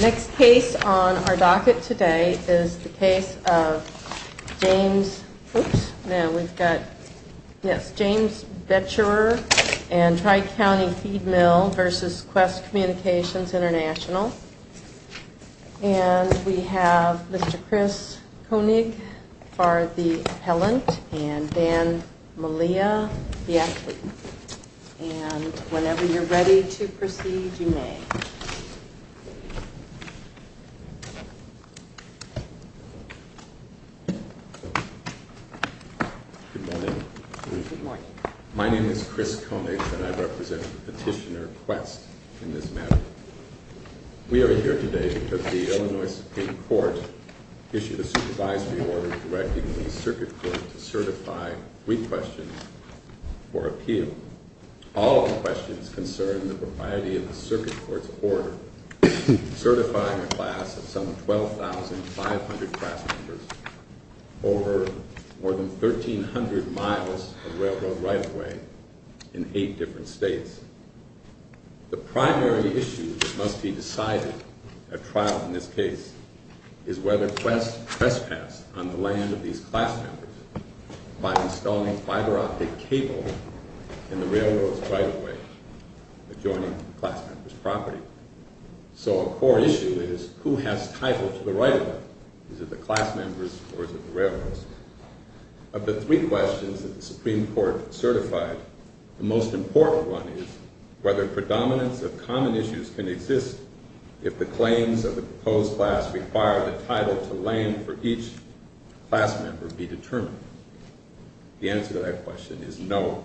Next case on our docket today is the case of James Becherer and Tri-County Feed Mill v. Qwest Communications International. And we have Mr. Chris Koenig for the appellant and Dan Malia, the athlete. And whenever you're ready to proceed, you may. Good morning. Good morning. My name is Chris Koenig and I represent Petitioner Qwest in this matter. We are here today because the Illinois Supreme Court issued a supervisory order directing the circuit court to certify three questions for appeal. All of the questions concern the propriety of the circuit court's order, certifying a class of some 12,500 class members over more than 1,300 miles of railroad right-of-way in eight different states. The primary issue that must be decided at trial in this case is whether Qwest trespassed on the land of these class members by installing fiber-optic cable in the railroad's right-of-way adjoining the class member's property. So a core issue is who has title to the right-of-way. Is it the class members or is it the railroads? Of the three questions that the Supreme Court certified, the most important one is whether predominance of common issues can exist if the claims of the proposed class require the title to land for each class member be determined. The answer to that question is no.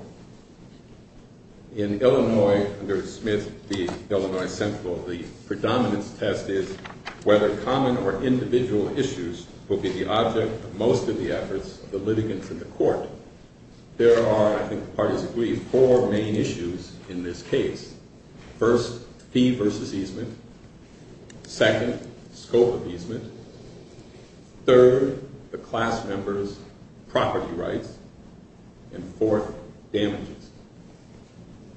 In Illinois, under Smith v. Illinois Central, the predominance test is whether common or individual issues will be the object of most of the efforts of the litigants in the court. There are, I think the parties agree, four main issues in this case. First, fee versus easement. Second, scope of easement. Third, the class member's property rights. And fourth, damages.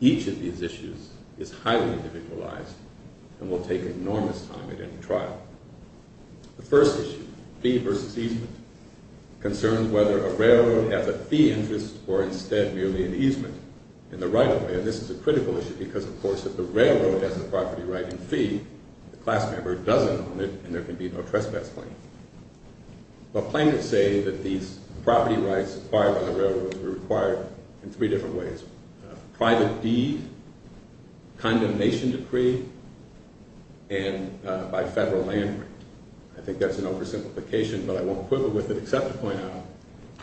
Each of these issues is highly individualized and will take enormous time at any trial. The first issue, fee versus easement, concerns whether a railroad has a fee interest or instead merely an easement in the right-of-way. And this is a critical issue because, of course, if the railroad has a property right in fee, the class member doesn't own it and there can be no trespass claim. But plaintiffs say that these property rights acquired by the railroads were required in three different ways. Private deed, condemnation decree, and by federal land right. I think that's an oversimplification, but I won't quibble with it except to point out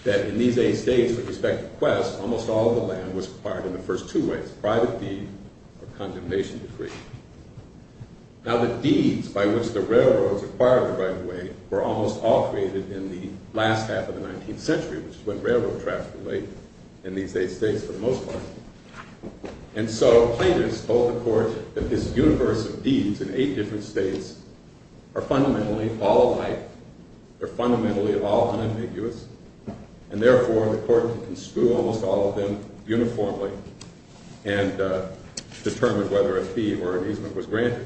that in these eight states with respect to Quest, almost all of the land was acquired in the first two ways, private deed or condemnation decree. Now, the deeds by which the railroads acquired the right-of-way were almost all created in the last half of the 19th century, which is when railroad traffic lay in these eight states for the most part. And so, plaintiffs told the court that this universe of deeds in eight different states are fundamentally all alike. They're fundamentally all unambiguous. And therefore, the court could construe almost all of them uniformly and determine whether a fee or an easement was granted.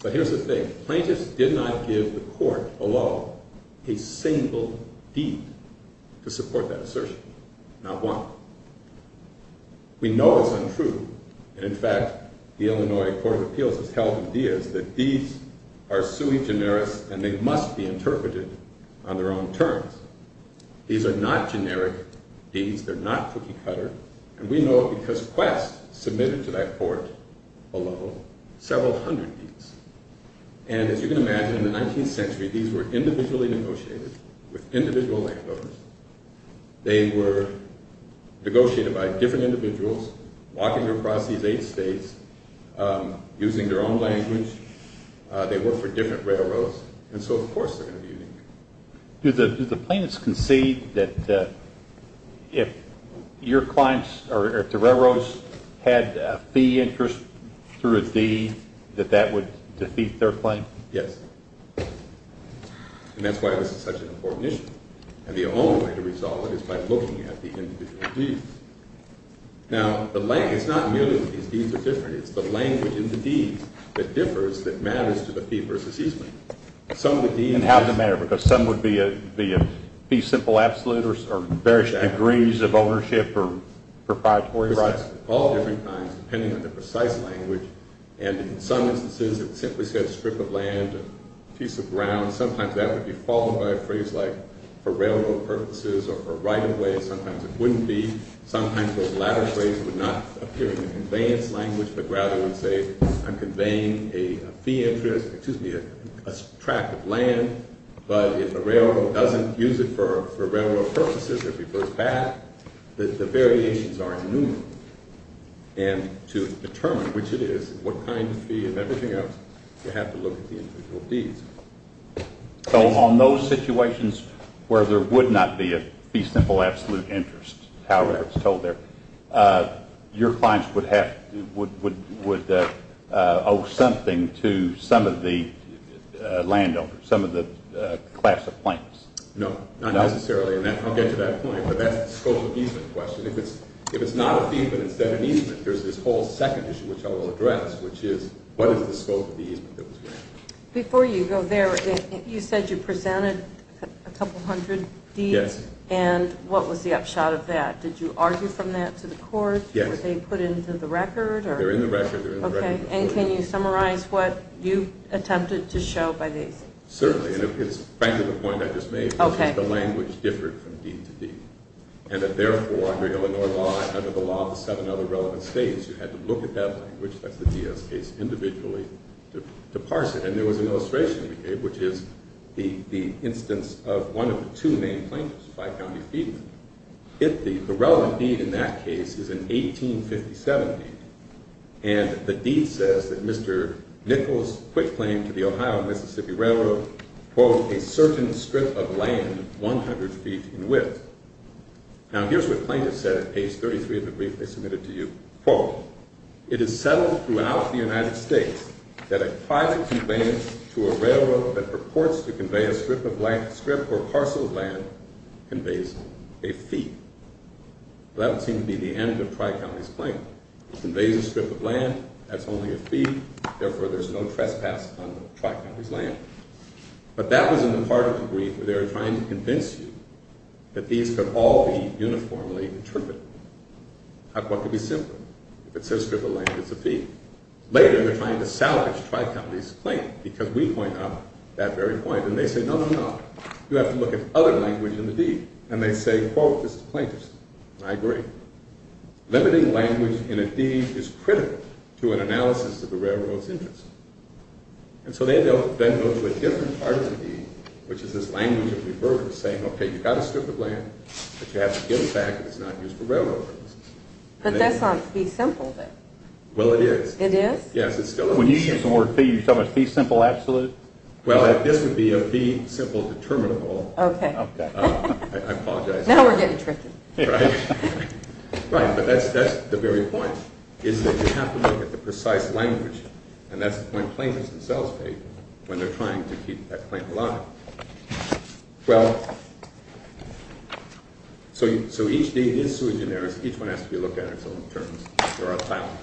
But here's the thing. Plaintiffs did not give the court below a single deed to support that assertion. Not one. We know it's untrue. And in fact, the Illinois Court of Appeals has held in Diaz that deeds are sui generis and they must be interpreted on their own terms. These are not generic deeds. They're not cookie-cutter. And we know it because Quest submitted to that court below several hundred deeds. And as you can imagine, in the 19th century, these were individually negotiated with individual landowners. They were negotiated by different individuals walking across these eight states using their own language. They worked for different railroads. And so, of course, they're going to be unique. Do the plaintiffs concede that if your clients or if the railroads had a fee interest through a deed that that would defeat their claim? Yes. And that's why this is such an important issue. And the only way to resolve it is by looking at the individual deeds. Now, it's not merely that these deeds are different. It's the language in the deeds that differs that matters to the fee versus easement. And how does it matter? Because some would be a fee simple absolute or various degrees of ownership or proprietary rights? All different kinds, depending on the precise language. And in some instances, it simply says strip of land, a piece of ground. Sometimes that would be followed by a phrase like for railroad purposes or for right of way. Sometimes it wouldn't be. Sometimes those latter phrases would not appear in the conveyance language, but rather would say I'm conveying a fee interest, excuse me, a tract of land. But if a railroad doesn't use it for railroad purposes or prefers that, the variations are innumerable. And to determine which it is, what kind of fee and everything else, you have to look at the individual deeds. So on those situations where there would not be a fee simple absolute interest, however it's told there, your clients would owe something to some of the landowners, some of the class of plants. No, not necessarily. And I'll get to that point. But that's the scope of the easement question. If it's not a fee but instead an easement, there's this whole second issue which I will address, which is what is the scope of the easement that was granted? Before you go there, you said you presented a couple hundred deeds. Yes. And what was the upshot of that? Did you argue from that to the court? Yes. Were they put into the record? They're in the record. Okay. And can you summarize what you attempted to show by these? Certainly. And it's frankly the point I just made, which is the language differed from deed to deed. And that therefore under Illinois law and under the law of the seven other relevant states, you had to look at that language. That's the DS case individually to parse it. And there was an illustration we gave, which is the instance of one of the two main plaintiffs, Fife County Feedland. The relevant deed in that case is an 1857 deed. And the deed says that Mr. Nichols quit claim to the Ohio Mississippi Railroad, quote, a certain strip of land 100 feet in width. Now, here's what plaintiffs said at page 33 of the brief they submitted to you. Quote, it is settled throughout the United States that a private complaint to a railroad that purports to convey a strip or parcel of land conveys a fee. Well, that would seem to be the end of Tri-County's claim. It conveys a strip of land. That's only a fee. Therefore, there's no trespass on Tri-County's land. But that was in the part of the brief where they were trying to convince you that these could all be uniformly interpreted. How could it be simpler? If it says strip of land, it's a fee. Later, they're trying to salvage Tri-County's claim because we point out that very point. And they say, no, no, no. You have to look at other language in the deed. And they say, quote, this is the plaintiff's. And I agree. Limiting language in a deed is critical to an analysis of the railroad's interest. And so they then go to a different part of the deed, which is this language of revert, saying, okay, you've got a strip of land, but you have to give it back. It's not used for railroad purposes. But that's not a fee simple, then. Well, it is. It is? Yes, it still is. When you use the word fee, you're talking about fee simple absolute? Well, this would be a fee simple determinable. Okay. I apologize. Now we're getting tricky. Right? Right. But that's the very point, is that you have to look at the precise language. And that's the point plaintiffs themselves make when they're trying to keep that claim alive. Well, so each deed is sui generis. Each one has to be looked at in its own terms. There are thousands.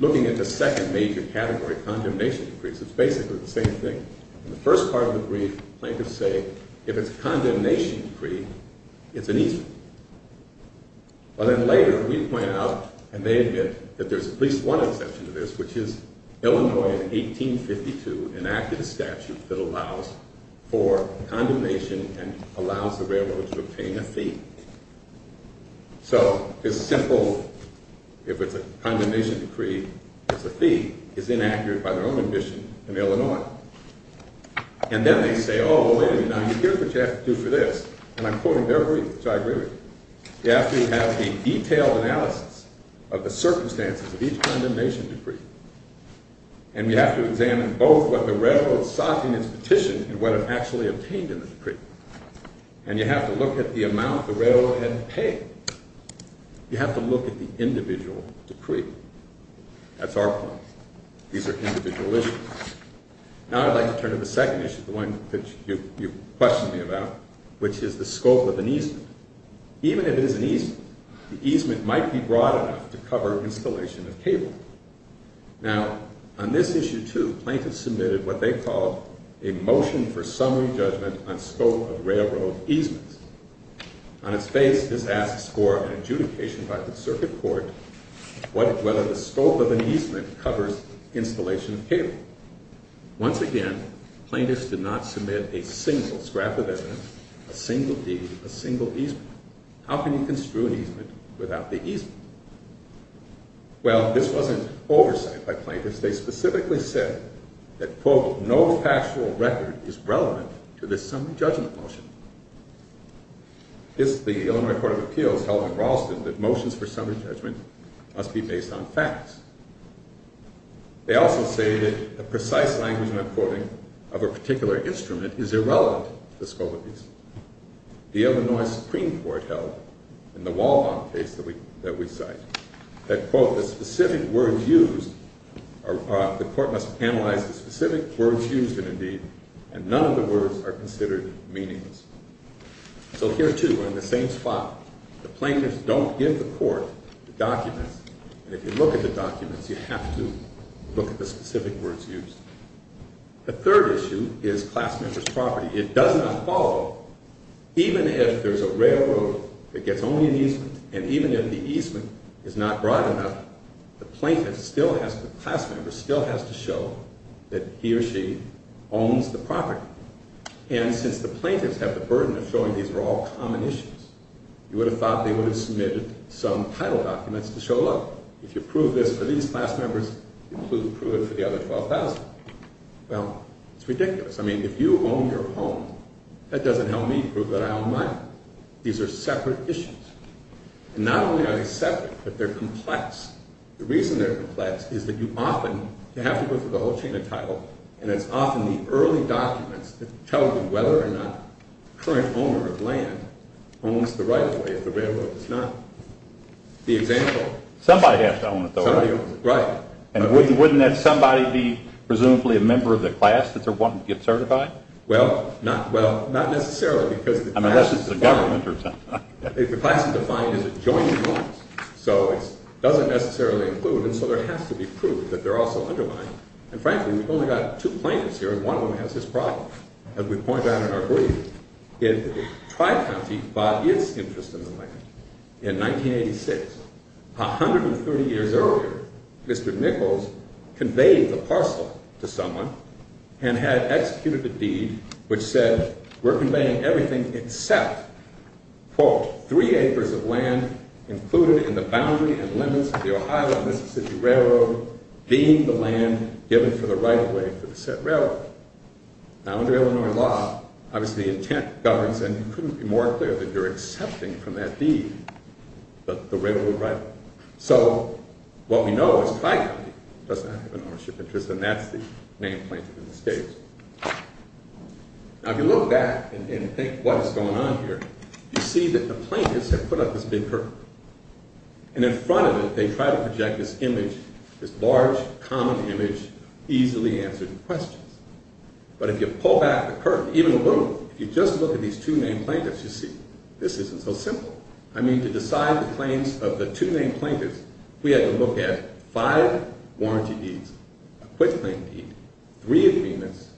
Looking at the second major category, condemnation decrees, it's basically the same thing. In the first part of the brief, plaintiffs say, if it's a condemnation decree, it's an easement. But then later, we point out, and they admit, that there's at least one exception to this, which is Illinois, in 1852, enacted a statute that allows for condemnation and allows the railroad to obtain a fee. So, it's simple. If it's a condemnation decree, it's a fee. It's inaccurate by their own ambition in Illinois. And then they say, oh, wait a minute, now you hear what you have to do for this. And I quote him very briefly, which I agree with. You have to have the detailed analysis of the circumstances of each condemnation decree. And you have to examine both what the railroad sought in its petition and what it actually obtained in the decree. And you have to look at the amount the railroad had paid. You have to look at the individual decree. That's our point. These are individual issues. Now I'd like to turn to the second issue, the one that you questioned me about, which is the scope of an easement. Even if it is an easement, the easement might be broad enough to cover installation of cable. Now, on this issue, too, plaintiffs submitted what they called a motion for summary judgment on scope of railroad easements. On its face, this asks for an adjudication by the circuit court whether the scope of an easement covers installation of cable. Once again, plaintiffs did not submit a single scrap of evidence, a single deed, a single easement. How can you construe an easement without the easement? Well, this wasn't oversight by plaintiffs. They specifically said that, quote, no factual record is relevant to this summary judgment motion. This is the Illinois Court of Appeals held in Ralston that motions for summary judgment must be based on facts. They also say that the precise language I'm quoting of a particular instrument is irrelevant to the scope of the easement. The Illinois Supreme Court held in the Walbaum case that we cite that, quote, the specific words used are – the court must analyze the specific words used in a deed, and none of the words are considered meaningless. So here, too, we're in the same spot. The plaintiffs don't give the court the documents. And if you look at the documents, you have to look at the specific words used. The third issue is class member's property. It does not follow. Even if there's a railroad that gets only an easement, and even if the easement is not broad enough, the plaintiff still has to – the class member still has to show that he or she owns the property. And since the plaintiffs have the burden of showing these are all common issues, you would have thought they would have submitted some title documents to show, look, if you prove this for these class members, you can prove it for the other 12,000. Well, it's ridiculous. I mean, if you own your home, that doesn't help me prove that I own mine. These are separate issues. And not only are they separate, but they're complex. The reason they're complex is that you often have to go through the whole chain of title, and it's often the early documents that tell you whether or not the current owner of land owns the right-of-way if the railroad does not. The example – Somebody has to own it, though, right? Somebody owns it, right. And wouldn't that somebody be presumably a member of the class that they're wanting to get certified? Well, not necessarily, because the class is defined – Unless it's the government or something. If the class is defined as a joint clause. So it doesn't necessarily include, and so there has to be proof that they're also underlined. And frankly, we've only got two plaintiffs here, and one of them has this problem. As we point out in our brief, Tri-County bought its interest in the land in 1986. 130 years earlier, Mr. Nichols conveyed the parcel to someone and had executed the deed which said, we're conveying everything except, quote, in the boundary and limits of the Ohio-Mississippi Railroad, being the land given for the right-of-way for the set railroad. Now, under Illinois law, obviously the intent governs, and it couldn't be more clear that you're accepting from that deed, that the railroad right-of-way. So, what we know is Tri-County does not have an ownership interest, and that's the main plaintiff in this case. Now, if you look back and think what is going on here, you see that the plaintiffs have put up this big curtain. And in front of it, they try to project this image, this large, common image, easily answered questions. But if you pull back the curtain, even a little, if you just look at these two main plaintiffs, you see, this isn't so simple. I mean, to decide the claims of the two main plaintiffs, we had to look at five warranty deeds, a quit-claim deed, three agreements,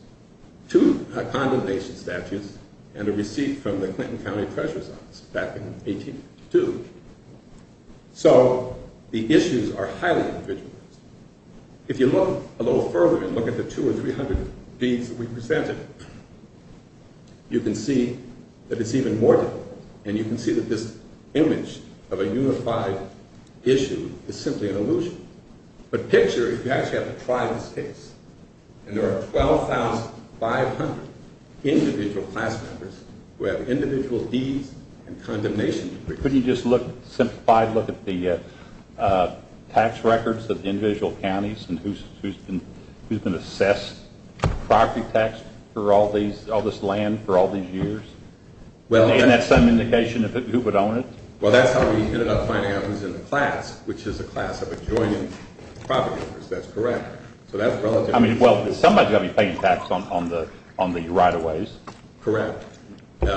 two condemnation statutes, and a receipt from the Clinton County Treasurer's Office back in 1882. So, the issues are highly individualized. If you look a little further and look at the two or three hundred deeds that we presented, you can see that it's even more difficult. And you can see that this image of a unified issue is simply an illusion. The picture is you actually have to try this case. And there are 12,500 individual class members who have individual deeds and condemnation. Couldn't you just look, simplify, look at the tax records of individual counties and who's been assessed property tax for all this land for all these years? And that's some indication of who would own it? Well, that's how we ended up finding out who's in the class, which is a class of adjoining property owners. That's correct. So that's relative. I mean, well, somebody's got to be paying tax on the right-of-ways. Correct. And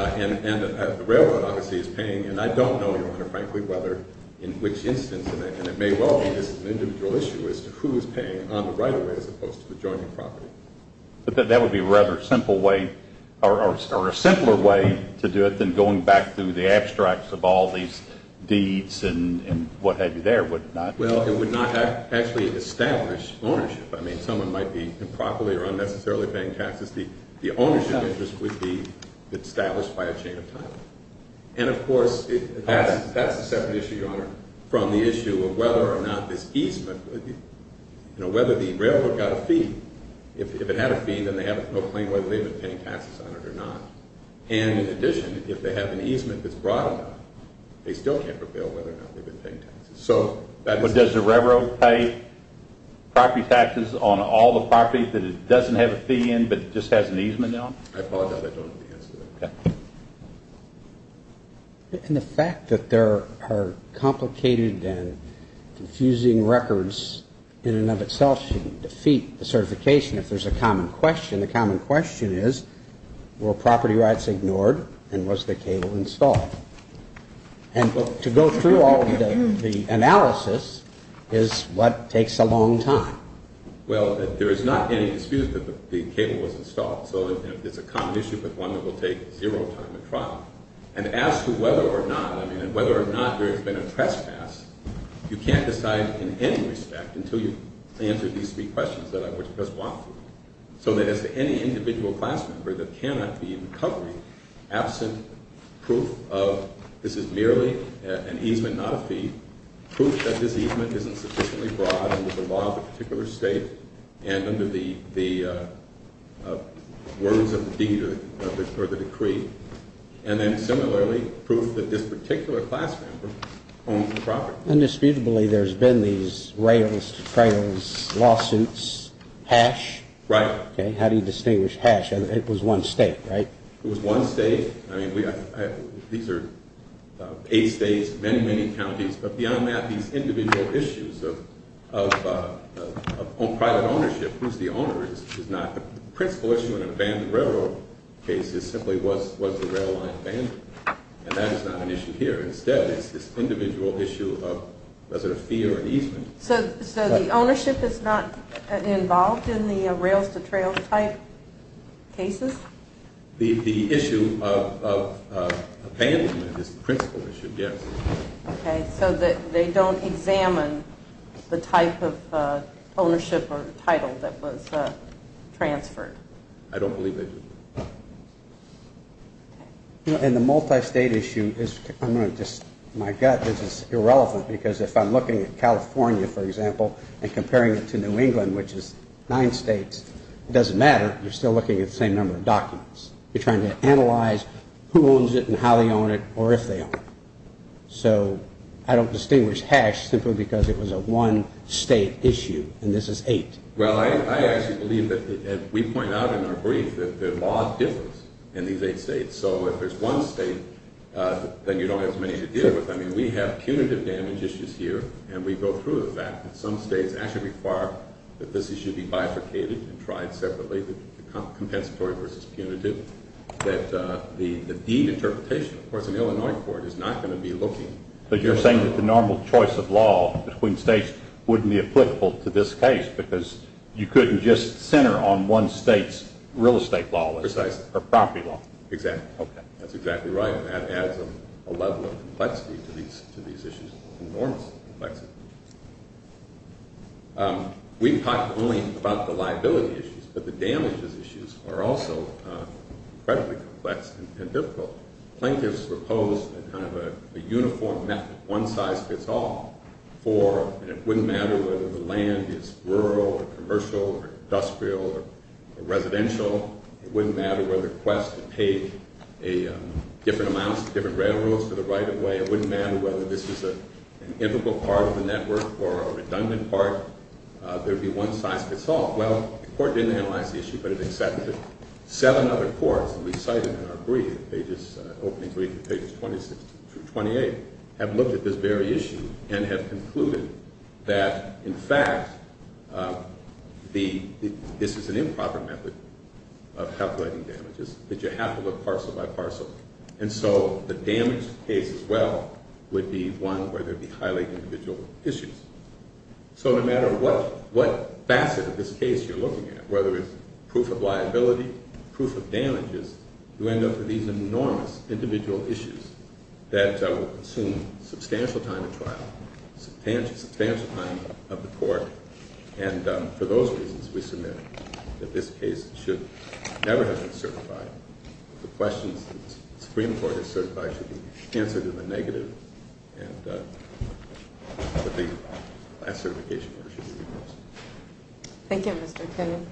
the railroad, obviously, is paying. And I don't know, Your Honor, frankly, whether in which instance, and it may well be this is an individual issue as to who is paying on the right-of-ways as opposed to the adjoining property. But that would be a rather simple way or a simpler way to do it than going back through the abstracts of all these deeds and what have you there, would it not? Well, it would not actually establish ownership. I mean, someone might be improperly or unnecessarily paying taxes. The ownership interest would be established by a chain of time. And, of course, that's a separate issue, Your Honor, from the issue of whether or not this easement, whether the railroad got a fee. If it had a fee, then they have no claim whether they've been paying taxes on it or not. And, in addition, if they have an easement that's broad enough, they still can't prevail whether or not they've been paying taxes. But does the railroad pay property taxes on all the property that it doesn't have a fee in but just has an easement on? I apologize, I don't know the answer to that. And the fact that there are complicated and confusing records in and of itself should defeat the certification. If there's a common question, the common question is, were property rights ignored and was the cable installed? And to go through all the analysis is what takes a long time. Well, there is not any dispute that the cable was installed. So it's a common issue, but one that will take zero time to trial. And as to whether or not, I mean, whether or not there has been a trespass, you can't decide in any respect until you answer these three questions that I would just walk through. So that as to any individual class member that cannot be in covering absent proof of this is merely an easement, not a fee, proof that this easement isn't sufficiently broad under the law of the particular state and under the words of the deed or the decree. And then similarly, proof that this particular class member owns the property. Undisputably, there's been these rails-to-trails lawsuits, hash. Right. How do you distinguish hash? It was one state, right? It was one state. I mean, these are eight states, many, many counties. But beyond that, these individual issues of private ownership, who's the owner, is not. The principal issue in an abandoned railroad case is simply was the rail line abandoned? And that is not an issue here. Instead, it's this individual issue of was it a fee or an easement? So the ownership is not involved in the rails-to-trails type cases? The issue of abandonment is the principal issue, yes. Okay. So they don't examine the type of ownership or title that was transferred? I don't believe they do. And the multi-state issue is, I'm going to just, my gut is irrelevant because if I'm looking at California, for example, and comparing it to New England, which is nine states, it doesn't matter. You're still looking at the same number of documents. You're trying to analyze who owns it and how they own it or if they own it. So I don't distinguish hash simply because it was a one-state issue and this is eight. Well, I actually believe that we point out in our brief that the law differs in these eight states. So if there's one state, then you don't have as many to deal with. I mean, we have punitive damage issues here, and we go through the fact that some states actually require that this issue be bifurcated and tried separately, the compensatory versus punitive, that the interpretation, of course, in Illinois court is not going to be looking. But you're saying that the normal choice of law between states wouldn't be applicable to this case because you couldn't just center on one state's real estate law or property law. Exactly. Okay. That's exactly right, and that adds a level of complexity to these issues, enormous complexity. We've talked only about the liability issues, but the damages issues are also incredibly complex and difficult. Plaintiffs propose kind of a uniform method, one size fits all, for it wouldn't matter whether the land is rural or commercial or industrial or residential. It wouldn't matter whether the request to pay different amounts to different railroads for the right-of-way. It wouldn't matter whether this is an integral part of the network or a redundant part. There would be one size fits all. Well, the court didn't analyze the issue, but it accepted it. Seven other courts that we cited in our brief, pages, opening brief, pages 26 through 28, have looked at this very issue and have concluded that, in fact, this is an improper method of calculating damages, that you have to look parcel by parcel. And so the damage case as well would be one where there would be highly individual issues. So no matter what facet of this case you're looking at, whether it's proof of liability, proof of damages, you end up with these enormous individual issues that will consume substantial time in trial, substantial time of the court. And for those reasons, we submit that this case should never have been certified. The questions that the Supreme Court has certified should be answered in the negative, and that the last certification order should be revoked. Thank you, Mr.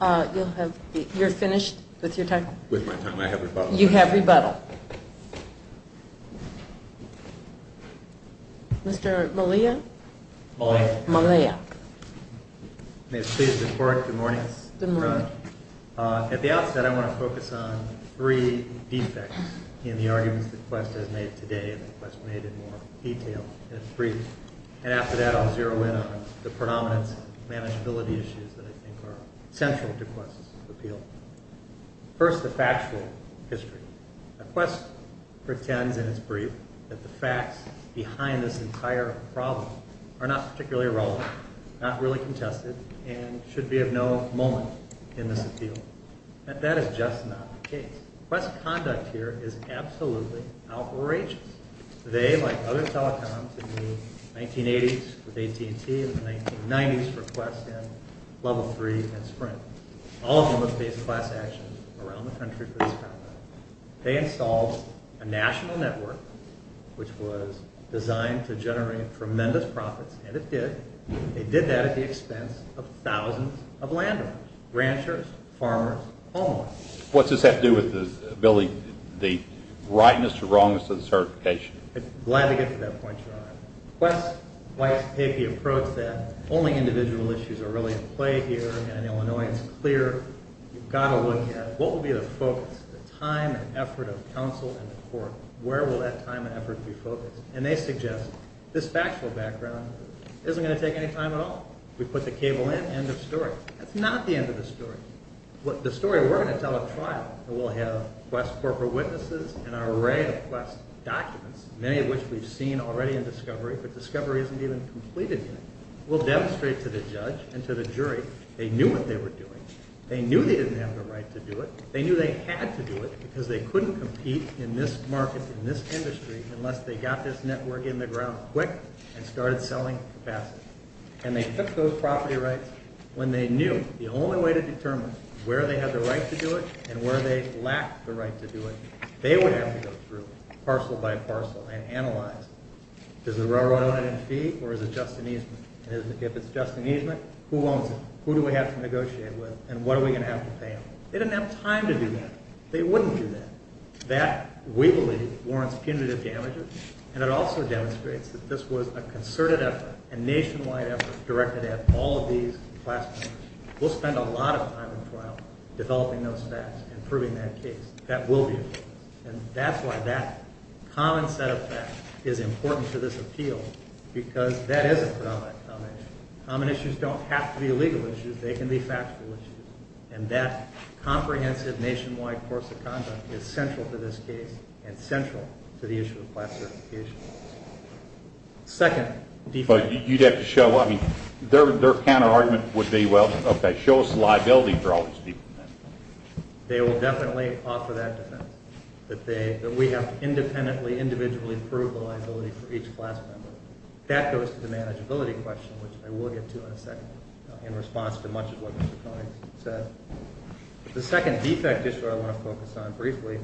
Kagan. You're finished with your time? With my time, I have rebuttal. You have rebuttal. Mr. Malia? Malia. Malia. May it please the Court, good morning. Good morning. At the outset, I want to focus on three defects in the arguments that Quest has made today, and that Quest made in more detail in its brief. And after that, I'll zero in on the predominance and manageability issues that I think are central to Quest's appeal. First, the factual history. Quest pretends in its brief that the facts behind this entire problem are not particularly relevant, not really contested, and should be of no moment in this appeal. That is just not the case. Quest's conduct here is absolutely outrageous. Today, like other telecoms in the 1980s with AT&T and the 1990s for Quest in Level 3 and Sprint, all of them have faced class action around the country for this problem. They installed a national network which was designed to generate tremendous profits, and it did. They did that at the expense of thousands of landowners, ranchers, farmers, homeowners. What does that do with the rightness or wrongness of the certification? Glad to get to that point, Your Honor. Quest's white-papy approach that only individual issues are really at play here in Illinois is clear. You've got to look at what will be the focus, the time and effort of counsel and the court. Where will that time and effort be focused? And they suggest this factual background isn't going to take any time at all. We put the cable in, end of story. That's not the end of the story. The story we're going to tell at trial, and we'll have Quest corporate witnesses and an array of Quest documents, many of which we've seen already in discovery, but discovery isn't even completed yet. We'll demonstrate to the judge and to the jury they knew what they were doing. They knew they didn't have the right to do it. They knew they had to do it because they couldn't compete in this market, in this industry, unless they got this network in the ground quick and started selling capacity. And they took those property rights when they knew the only way to determine where they had the right to do it and where they lacked the right to do it. They would have to go through parcel by parcel and analyze. Does the railroad own it in fee or is it just an easement? If it's just an easement, who owns it? Who do we have to negotiate with and what are we going to have to pay them? They didn't have time to do that. They wouldn't do that. That, we believe, warrants punitive damages, and it also demonstrates that this was a concerted effort, a nationwide effort directed at all of these Quest members. We'll spend a lot of time in trial developing those facts and proving that case. That will be important. And that's why that common set of facts is important to this appeal because that is a predominant common issue. Common issues don't have to be legal issues. They can be factual issues. And that comprehensive nationwide course of conduct is central to this case and central to the issue of Quest certifications. Second defect. You'd have to show, I mean, their counterargument would be, well, okay, show us the liability for all these people. They will definitely offer that defense, that we have to independently, individually prove the liability for each Quest member. That goes to the manageability question, which I will get to in a second, in response to much of what Mr. Koenig said. The second defect issue I want to focus on briefly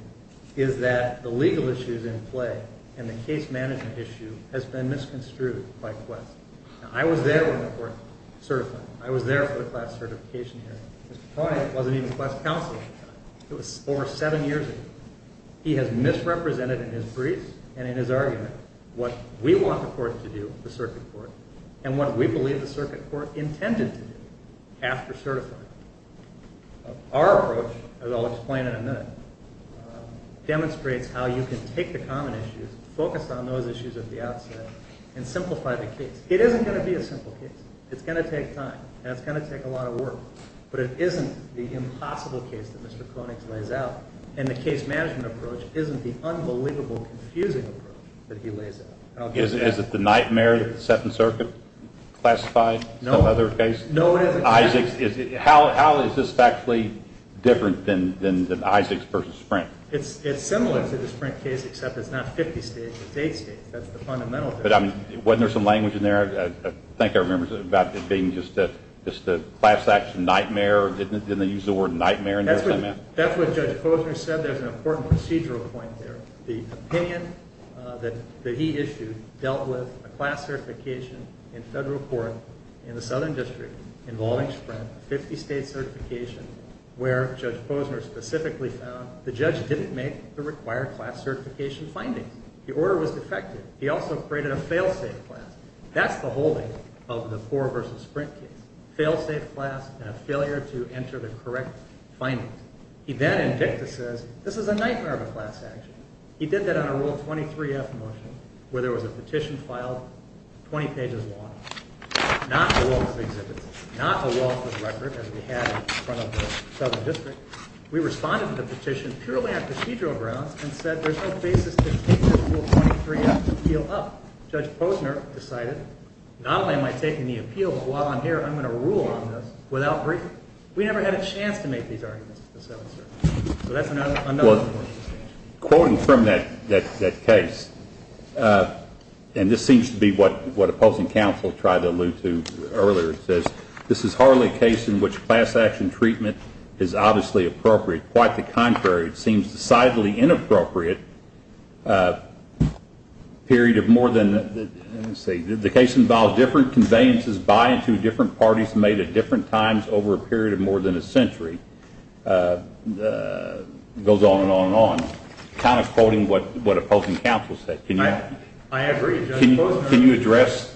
is that the legal issue is in play and the case management issue has been misconstrued by Quest. Now, I was there when the court certified. I was there for the class certification hearing. Mr. Koenig wasn't even class counsel at the time. It was over seven years ago. He has misrepresented in his briefs and in his argument what we want the court to do, the circuit court, and what we believe the circuit court intended to do after certifying. Our approach, as I'll explain in a minute, demonstrates how you can take the common issues, focus on those issues at the outset, and simplify the case. It isn't going to be a simple case. It's going to take time, and it's going to take a lot of work, but it isn't the impossible case that Mr. Koenig lays out, and the case management approach isn't the unbelievable, confusing approach that he lays out. Is it the nightmare that the Second Circuit classified some other case? No, it isn't. How is this factually different than Isaacs v. Sprint? It's similar to the Sprint case, except it's not 50 states, it's 8 states. That's the fundamental difference. Wasn't there some language in there? I think I remember about it being just a class action nightmare. Didn't they use the word nightmare in there somehow? That's what Judge Posner said. There's an important procedural point there. The opinion that he issued dealt with a class certification in federal court in the Southern District involving Sprint, a 50-state certification, where Judge Posner specifically found the judge didn't make the required class certification findings. The order was defective. He also created a fail-safe class. That's the holding of the poor v. Sprint case, fail-safe class and a failure to enter the correct findings. He then in dicta says this is a nightmare of a class action. He did that on a Rule 23-F motion where there was a petition filed 20 pages long. Not a lawful exhibit, not a lawful record as we had in front of the Southern District. We responded to the petition purely on procedural grounds and said there's no basis to take this Rule 23-F appeal up. Judge Posner decided not only am I taking the appeal, but while I'm here I'm going to rule on this without briefing. We never had a chance to make these arguments in the Southern District. So that's another important distinction. Quoting from that case, and this seems to be what opposing counsel tried to allude to earlier, it says this is hardly a case in which class action treatment is obviously appropriate. Quite the contrary, it seems decidedly inappropriate. The case involves different conveyances by and to different parties made at different times over a period of more than a century. It goes on and on and on, kind of quoting what opposing counsel said. I agree, Judge Posner. Can you address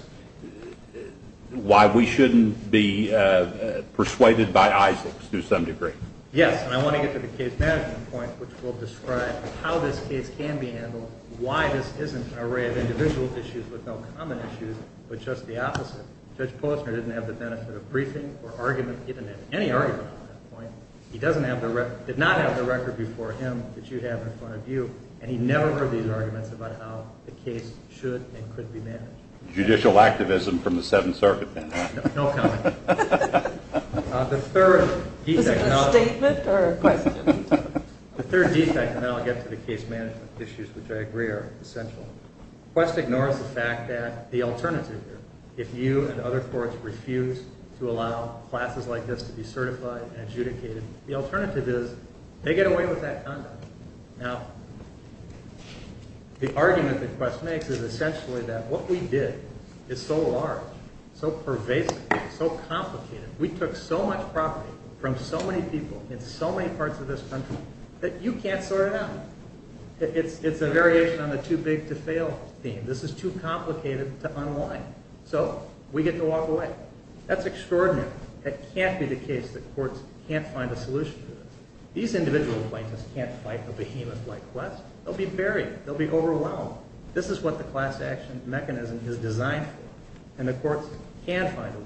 why we shouldn't be persuaded by Isaacs to some degree? Yes, and I want to get to the case management point, which will describe how this case can be handled, why this isn't an array of individual issues with no common issues, but just the opposite. Judge Posner didn't have the benefit of briefing or argument, he didn't have any argument on that point. He did not have the record before him that you have in front of you, and he never heard these arguments about how the case should and could be managed. Judicial activism from the Seventh Circuit, then. No comment. The third defect, and then I'll get to the case management issues, which I agree are essential. Quest ignores the fact that the alternative, if you and other courts refuse to allow classes like this to be certified and adjudicated, the alternative is they get away with that conduct. Now, the argument that Quest makes is essentially that what we did is so large, so pervasive, so complicated. We took so much property from so many people in so many parts of this country that you can't sort it out. It's a variation on the too big to fail theme. This is too complicated to unwind. So we get to walk away. That's extraordinary. That can't be the case that courts can't find a solution to this. These individual plaintiffs can't fight a behemoth like Quest. They'll be buried. They'll be overwhelmed. This is what the class action mechanism is designed for, and the courts can find a way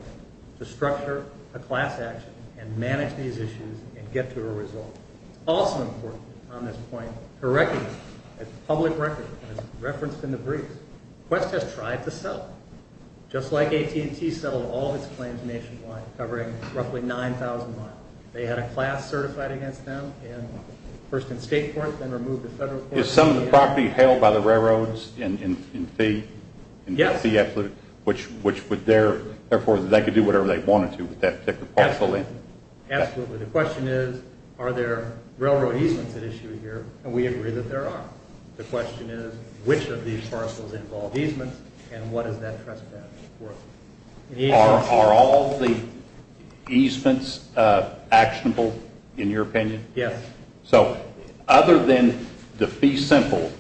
to structure a class action and manage these issues and get to a result. It's also important on this point to recognize the public record that is referenced in the brief. Quest has tried to settle, just like AT&T settled all of its claims nationwide, covering roughly 9,000 miles. They had a class certified against them, first in state court, then removed to federal court. Is some of the property held by the railroads in fee? Yes. Therefore, they could do whatever they wanted to with that particular parcel in? Absolutely. The question is, are there railroad easements at issue here? And we agree that there are. The question is, which of these parcels involve easements, and what is that trespass worth? Are all the easements actionable, in your opinion? Yes. So other than the fee simple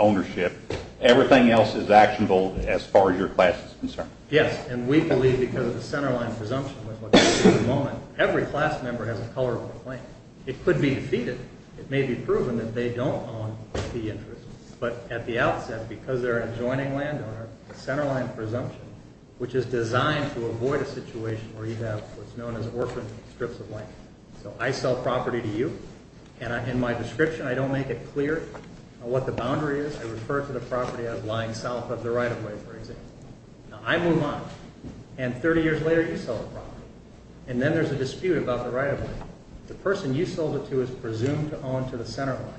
ownership, everything else is actionable as far as your class is concerned? Yes. And we believe, because of the centerline presumption with what we see at the moment, every class member has a colorable claim. It could be defeated. It may be proven that they don't own the interest. But at the outset, because they're an adjoining landowner, the centerline presumption, which is designed to avoid a situation where you have what's known as orphaned strips of land. So I sell property to you, and in my description I don't make it clear what the boundary is. I refer to the property as lying south of the right-of-way, for example. Now I move on, and 30 years later you sell the property. And then there's a dispute about the right-of-way. The person you sold it to is presumed to own to the centerline,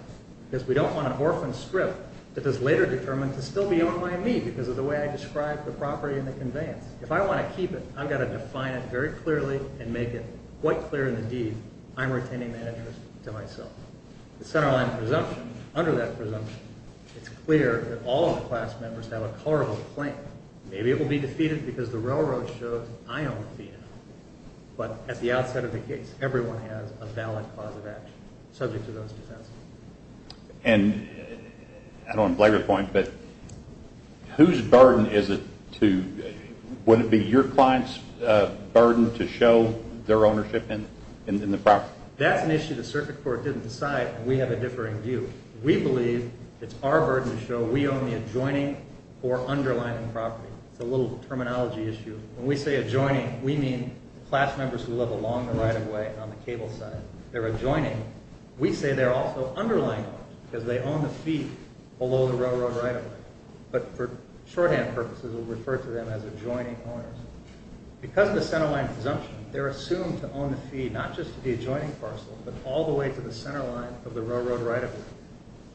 because we don't want an orphaned strip that is later determined to still be owned by me because of the way I describe the property and the conveyance. If I want to keep it, I've got to define it very clearly and make it quite clear in the deed I'm retaining the interest to myself. The centerline presumption, under that presumption, it's clear that all of the class members have a colorable claim. Maybe it will be defeated because the railroad shows I own the field. But at the outset of the case, everyone has a valid cause of action subject to those defenses. And I don't want to blab your point, but whose burden is it to would it be your client's burden to show their ownership in the property? That's an issue the circuit court didn't decide, and we have a differing view. We believe it's our burden to show we own the adjoining or underlying property. It's a little terminology issue. When we say adjoining, we mean the class members who live along the right-of-way on the cable side. They're adjoining. We say they're also underlying owners because they own the feed below the railroad right-of-way. But for shorthand purposes, we'll refer to them as adjoining owners. Because of the centerline presumption, they're assumed to own the feed, not just the adjoining parcel, but all the way to the centerline of the railroad right-of-way.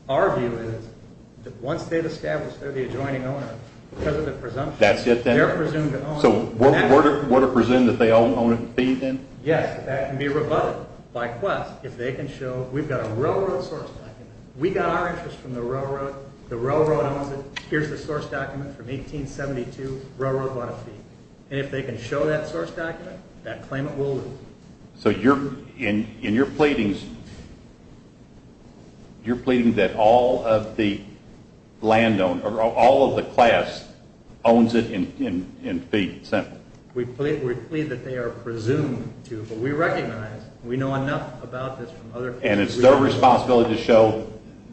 Our view is that once they've established they're the adjoining owner, because of the presumption, they're presumed to own. So we're to presume that they own the feed then? Yes, that can be rebutted by Quest if they can show we've got a railroad source document. We got our interest from the railroad. The railroad owns it. Here's the source document from 1872, railroad bought a feed. And if they can show that source document, that claimant will lose. So in your pleadings, you're pleading that all of the class owns it and feeds it? We plead that they are presumed to. But we recognize, we know enough about this from other people. And it's their responsibility to show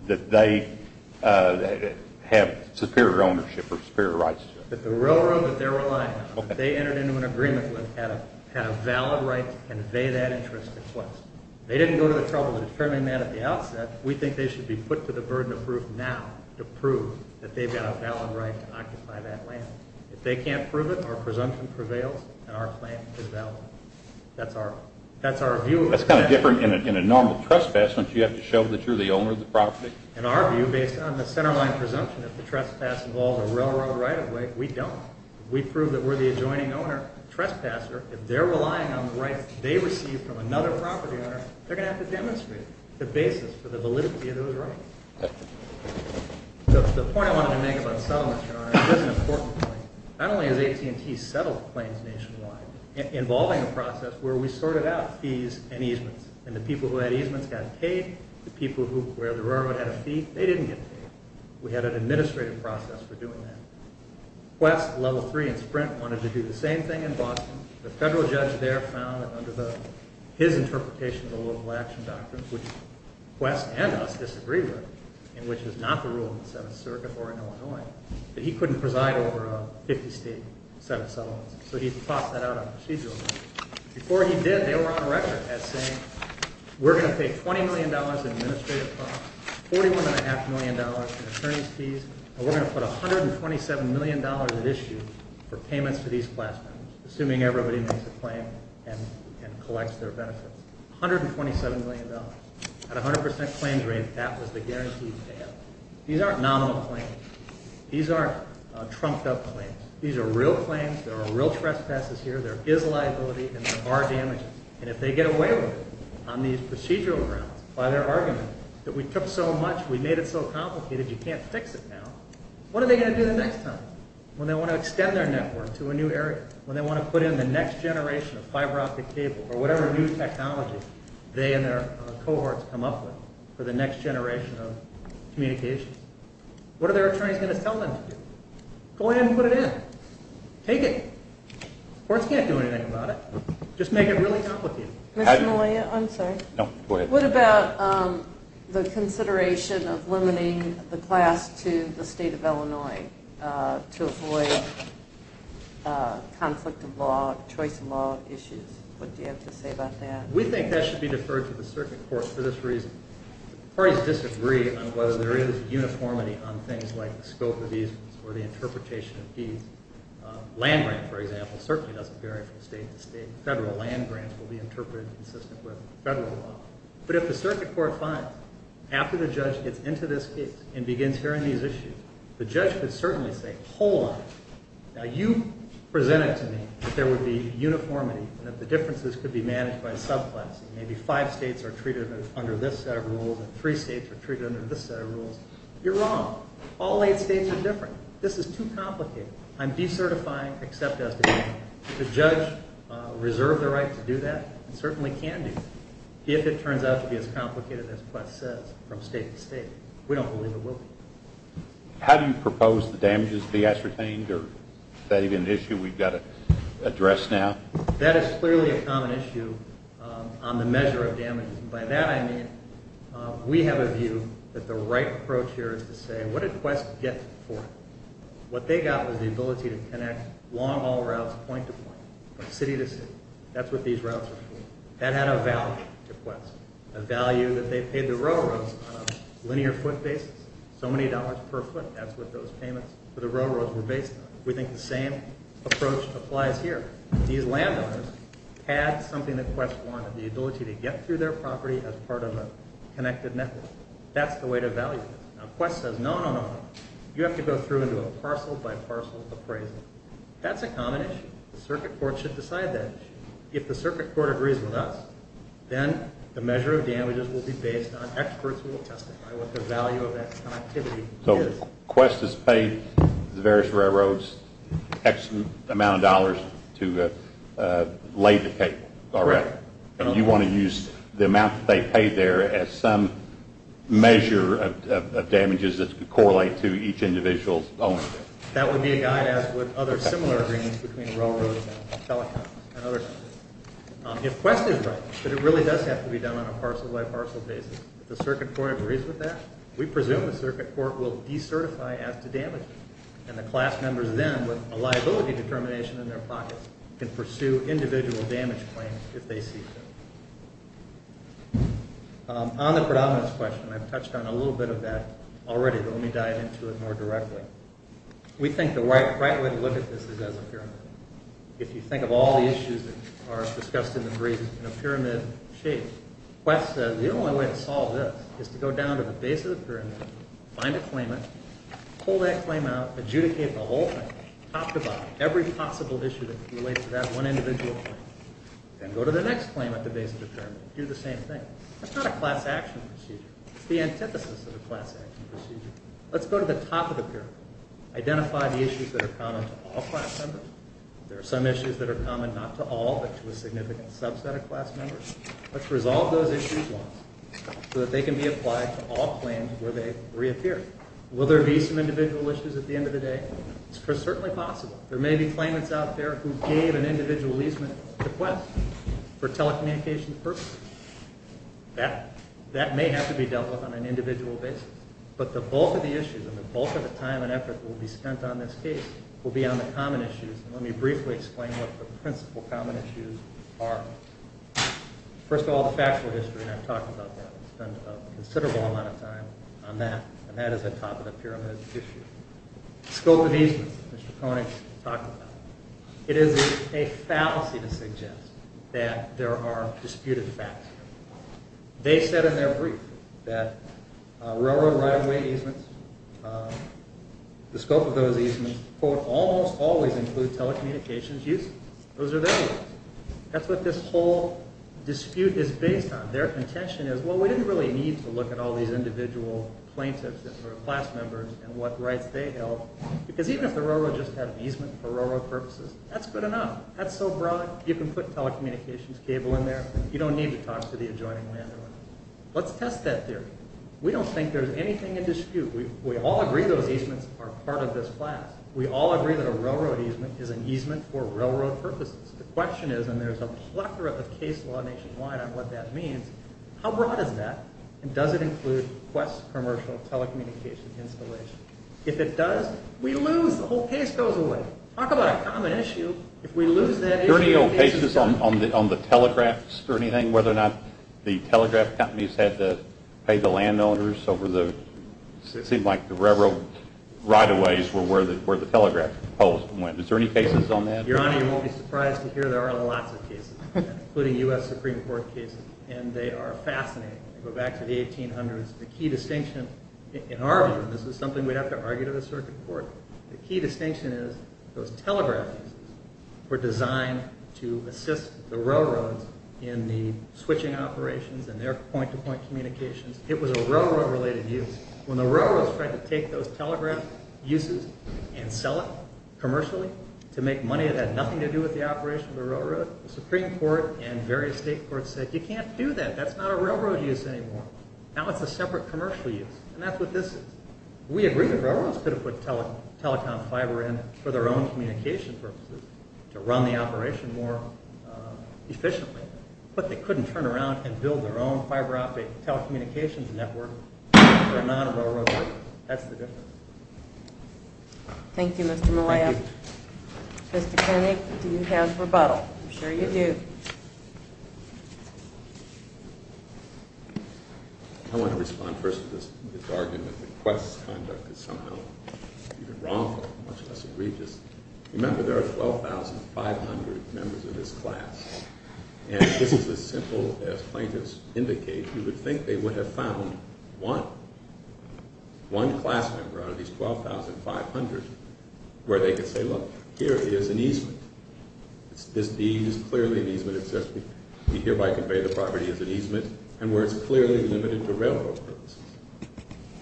that they have superior ownership or superior rights? That the railroad that they're relying on, if they entered into an agreement with, had a valid right to convey that interest to Quest. If they didn't go to the trouble of determining that at the outset, we think they should be put to the burden of proof now to prove that they've got a valid right to occupy that land. If they can't prove it, our presumption prevails and our claim is valid. That's our view. That's kind of different in a normal trespass, don't you have to show that you're the owner of the property? In our view, based on the centerline presumption, if the trespass involves a railroad right-of-way, we don't. If we prove that we're the adjoining owner trespasser, if they're relying on the rights they receive from another property owner, they're going to have to demonstrate the basis for the validity of those rights. So the point I wanted to make about settlements, Your Honor, is an important point. Not only has AT&T settled claims nationwide, involving a process where we sorted out fees and easements, and the people who had easements got paid, the people where the railroad had a fee, they didn't get paid. We had an administrative process for doing that. Quest, Level 3, and Sprint wanted to do the same thing in Boston. The federal judge there found that under his interpretation of the local action doctrine, which Quest and us disagree with, and which is not the rule of the Seventh Circuit or in Illinois, that he couldn't preside over a 50-state set of settlements. So he tossed that out on procedural grounds. Before he did, they were on record as saying, we're going to pay $20 million in administrative costs, $41.5 million in attorney's fees, and we're going to put $127 million at issue for payments to these class members, assuming everybody makes a claim and collects their benefits. $127 million. At a 100% claims rate, that was the guaranteed payout. These aren't nominal claims. These aren't trumped-up claims. These are real claims. There are real trespasses here. There is liability, and there are damages. And if they get away with it on these procedural grounds, by their argument that we took so much, we made it so complicated, you can't fix it now, what are they going to do the next time when they want to extend their network to a new area, when they want to put in the next generation of fiber optic cable or whatever new technology they and their cohorts come up with for the next generation of communications? What are their attorneys going to tell them to do? Go ahead and put it in. Take it. Courts can't do anything about it. Mr. Malia, I'm sorry. No, go ahead. What about the consideration of limiting the class to the state of Illinois to avoid conflict of law, choice of law issues? What do you have to say about that? We think that should be deferred to the circuit court for this reason. Parties disagree on whether there is uniformity on things like the scope of these or the interpretation of these. Land-grant, for example, certainly doesn't vary from state to state. Federal land-grants will be interpreted consistent with federal law. But if the circuit court finds, after the judge gets into this case and begins hearing these issues, the judge could certainly say, hold on, now you presented to me that there would be uniformity and that the differences could be managed by subclassing. Maybe five states are treated under this set of rules and three states are treated under this set of rules. You're wrong. All eight states are different. This is too complicated. I'm decertifying except as defined. Does the judge reserve the right to do that? It certainly can do that if it turns out to be as complicated as Quest says from state to state. We don't believe it will be. How do you propose the damages be ascertained? Is that even an issue we've got to address now? That is clearly a common issue on the measure of damages. By that I mean we have a view that the right approach here is to say, what did Quest get for it? What they got was the ability to connect long haul routes point to point, from city to city. That's what these routes are for. That had a value to Quest, a value that they paid the railroads on a linear foot basis, so many dollars per foot. That's what those payments for the railroads were based on. We think the same approach applies here. These landowners had something that Quest wanted, the ability to get through their property as part of a connected network. That's the way to value this. Now Quest says, no, no, no. You have to go through and do a parcel by parcel appraisal. That's a common issue. The circuit court should decide that issue. If the circuit court agrees with us, then the measure of damages will be based on experts who will testify what the value of that connectivity is. So Quest has paid the various railroads an excellent amount of dollars to lay the table. You want to use the amount that they paid there as some measure of damages that correlate to each individual's own. That would be a guide, as would other similar agreements between railroads and telecoms and others. If Quest is right, but it really does have to be done on a parcel by parcel basis, if the circuit court agrees with that, we presume the circuit court will decertify as to damages, and the class members then, with a liability determination in their pockets, can pursue individual damage claims if they see fit. On the predominance question, I've touched on a little bit of that already, but let me dive into it more directly. We think the right way to look at this is as a pyramid. If you think of all the issues that are discussed in the brief in a pyramid shape, Quest says the only way to solve this is to go down to the base of the pyramid, find a claimant, pull that claim out, adjudicate the whole thing, talk about every possible issue that relates to that one individual claim, then go to the next claim at the base of the pyramid, do the same thing. That's not a class action procedure. It's the antithesis of a class action procedure. Let's go to the top of the pyramid, identify the issues that are common to all class members. There are some issues that are common not to all, but to a significant subset of class members. Let's resolve those issues once so that they can be applied to all claims where they reappear. Will there be some individual issues at the end of the day? It's certainly possible. There may be claimants out there who gave an individual easement to Quest for telecommunications purposes. That may have to be dealt with on an individual basis. But the bulk of the issues and the bulk of the time and effort that will be spent on this case will be on the common issues. Let me briefly explain what the principal common issues are. First of all, the factual history, and I've talked about that. We've spent a considerable amount of time on that, and that is the top of the pyramid issue. The scope of easements that Mr. Koenig talked about. It is a fallacy to suggest that there are disputed facts. They said in their brief that railroad right-of-way easements, the scope of those easements, quote, almost always include telecommunications use. Those are their words. That's what this whole dispute is based on. Their contention is, well, we didn't really need to look at all these individual plaintiffs that were class members and what rights they held, because even if the railroad just had an easement for railroad purposes, that's good enough. That's so broad. You can put telecommunications cable in there. You don't need to talk to the adjoining landowner. Let's test that theory. We don't think there's anything in dispute. We all agree those easements are part of this class. We all agree that a railroad easement is an easement for railroad purposes. The question is, and there's a plethora of case law nationwide on what that means, how broad is that, and does it include West commercial telecommunications installation? If it does, we lose. The whole case goes away. Talk about a common issue. If we lose that issue, the case is done. Are there any old cases on the telegraphs or anything, whether or not the telegraph companies had to pay the landowners over the, it seemed like the railroad right-of-ways were where the telegraph poles went. Is there any cases on that? Your Honor, you won't be surprised to hear there are lots of cases, including U.S. Supreme Court cases, and they are fascinating. They go back to the 1800s. The key distinction, in our view, and this is something we'd have to argue to the circuit court, the key distinction is those telegraph easements were designed to assist the railroads in the switching operations and their point-to-point communications. It was a railroad-related use. When the railroads tried to take those telegraph uses and sell it commercially to make money that had nothing to do with the operation of the railroad, the Supreme Court and various state courts said, You can't do that. That's not a railroad use anymore. Now it's a separate commercial use, and that's what this is. We agree that railroads could have put telecom fiber in for their own communication purposes to run the operation more efficiently, but they couldn't turn around and build their own fiber-optic telecommunications network if they're not a railroad worker. That's the difference. Thank you, Mr. Malayo. Thank you. Mr. Koenig, do you have rebuttal? I'm sure you do. I want to respond first to this argument that Quest's conduct is somehow even wrongful, much less egregious. Remember, there are 12,500 members of this class, and this is as simple as plaintiffs indicate. You would think they would have found one, one class member out of these 12,500, where they could say, Look, here is an easement. This deed is clearly an easement. It says we hereby convey the property as an easement and where it's clearly limited to railroad purposes,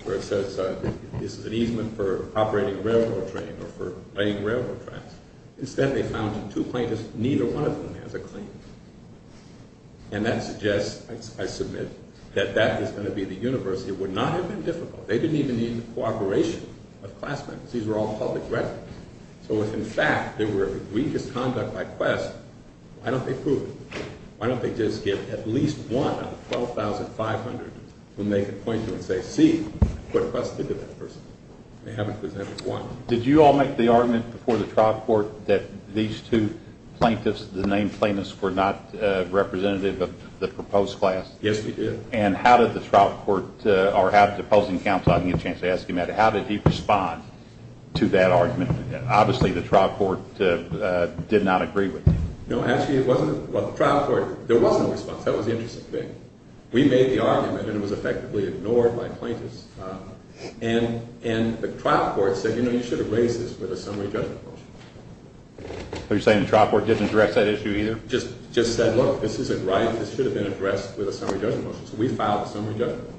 where it says this is an easement for operating a railroad train or for laying railroad tracks. Instead, they found two plaintiffs. Neither one of them has a claim. And that suggests, I submit, that that is going to be the universe. It would not have been difficult. They didn't even need the cooperation of class members. These were all public records. So if, in fact, they were egregious conduct by Quest, why don't they prove it? Why don't they just give at least one of the 12,500 whom they could point to and say, See, what Quest did to that person? They haven't presented one. Did you all make the argument before the trial court that these two plaintiffs, the named plaintiffs, were not representative of the proposed class? Yes, we did. And how did the trial court, or how did the opposing counsel, I'll give you a chance to ask him that, how did he respond to that argument? Obviously, the trial court did not agree with you. No, actually, it wasn't. Well, the trial court, there was no response. That was the interesting thing. We made the argument, and it was effectively ignored by plaintiffs. And the trial court said, You know, you should have raised this with a summary judgment motion. So you're saying the trial court didn't address that issue either? Just said, Look, this isn't right. This should have been addressed with a summary judgment motion. So we filed a summary judgment motion.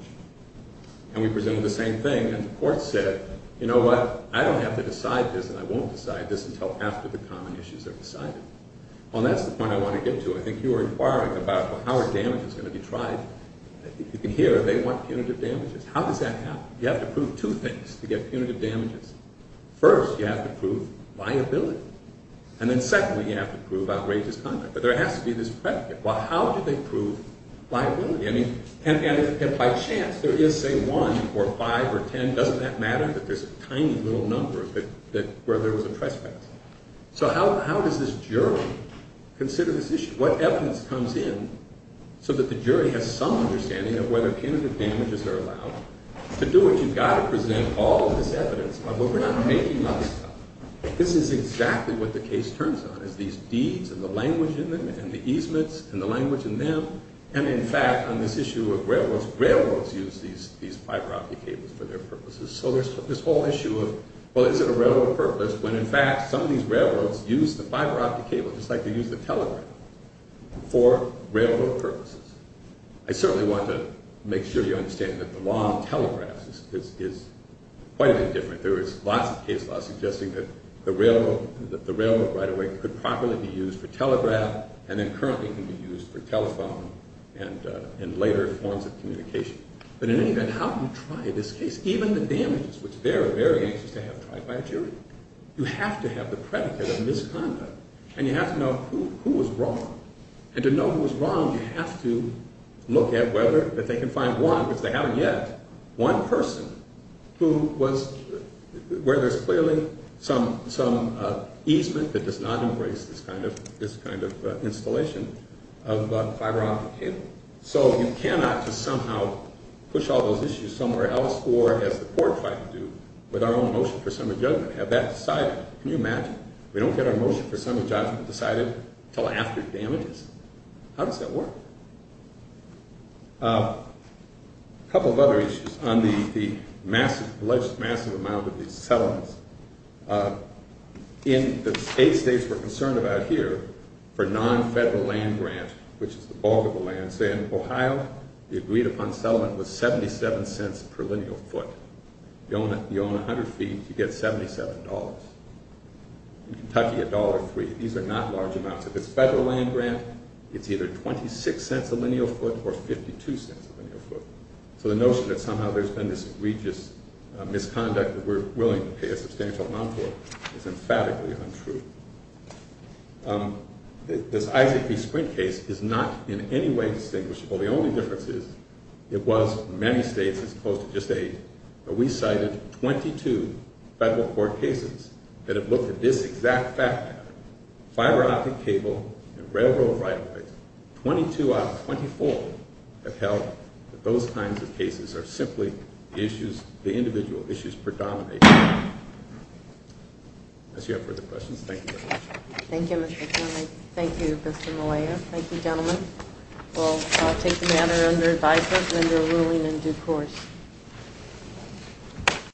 And we presented the same thing. And the court said, You know what? I don't have to decide this, and I won't decide this until after the common issues are decided. Well, that's the point I want to get to. I think you were inquiring about, Well, how are damages going to be tried? You can hear they want punitive damages. How does that happen? You have to prove two things to get punitive damages. First, you have to prove viability. And then secondly, you have to prove outrageous conduct. But there has to be this predicate. Well, how do they prove viability? And if by chance there is, say, 1 or 5 or 10, doesn't that matter that there's a tiny little number where there was a trespass? So how does this jury consider this issue? What evidence comes in so that the jury has some understanding of whether punitive damages are allowed? To do it, you've got to present all of this evidence. But we're not making up stuff. This is exactly what the case turns on, is these deeds and the language in them and the easements and the language in them. And, in fact, on this issue of railroads, railroads use these fiber-optic cables for their purposes. So there's this whole issue of, well, is it a railroad purpose, when, in fact, some of these railroads use the fiber-optic cable just like they use the telegraph for railroad purposes. I certainly want to make sure you understand that the law on telegraphs is quite a bit different. There is lots of case law suggesting that the railroad right-of-way could properly be used for telegraph and then currently can be used for telephone and later forms of communication. But in any event, how do you try this case? Even the damages, which they're very anxious to have tried by a jury. You have to have the predicate of misconduct, and you have to know who was wrong. And to know who was wrong, you have to look at whether they can find one, which they haven't yet, one person who was... where there's clearly some easement that does not embrace this kind of installation of fiber-optic cable. So you cannot just somehow push all those issues somewhere else or, as the court tried to do, with our own motion for sum of judgment, have that decided. Can you imagine if we don't get our motion for sum of judgment decided until after damages? How does that work? A couple of other issues on the alleged massive amount of these settlements. In the eight states we're concerned about here, for non-federal land grant, which is the bulk of the land, say in Ohio, the agreed-upon settlement was 77 cents per lineal foot. You own 100 feet, you get $77. In Kentucky, $1.03. These are not large amounts. If it's federal land grant, it's either 26 cents a lineal foot or 52 cents a lineal foot. So the notion that somehow there's been this egregious misconduct that we're willing to pay a substantial amount for is emphatically untrue. This Isaac B. Sprint case is not in any way distinguishable. The only difference is it was in many states as close to just eight. We cited 22 federal court cases that have looked at this exact fact. Fiber-optic cable and railroad right-of-way. Twenty-two out of 24 have held that those kinds of cases are simply the individual issues predominating. Unless you have further questions, thank you very much. Thank you, Mr. Kornick. Thank you, Mr. Malayo. Thank you, gentlemen. We'll take the matter under advisement and under ruling in due course.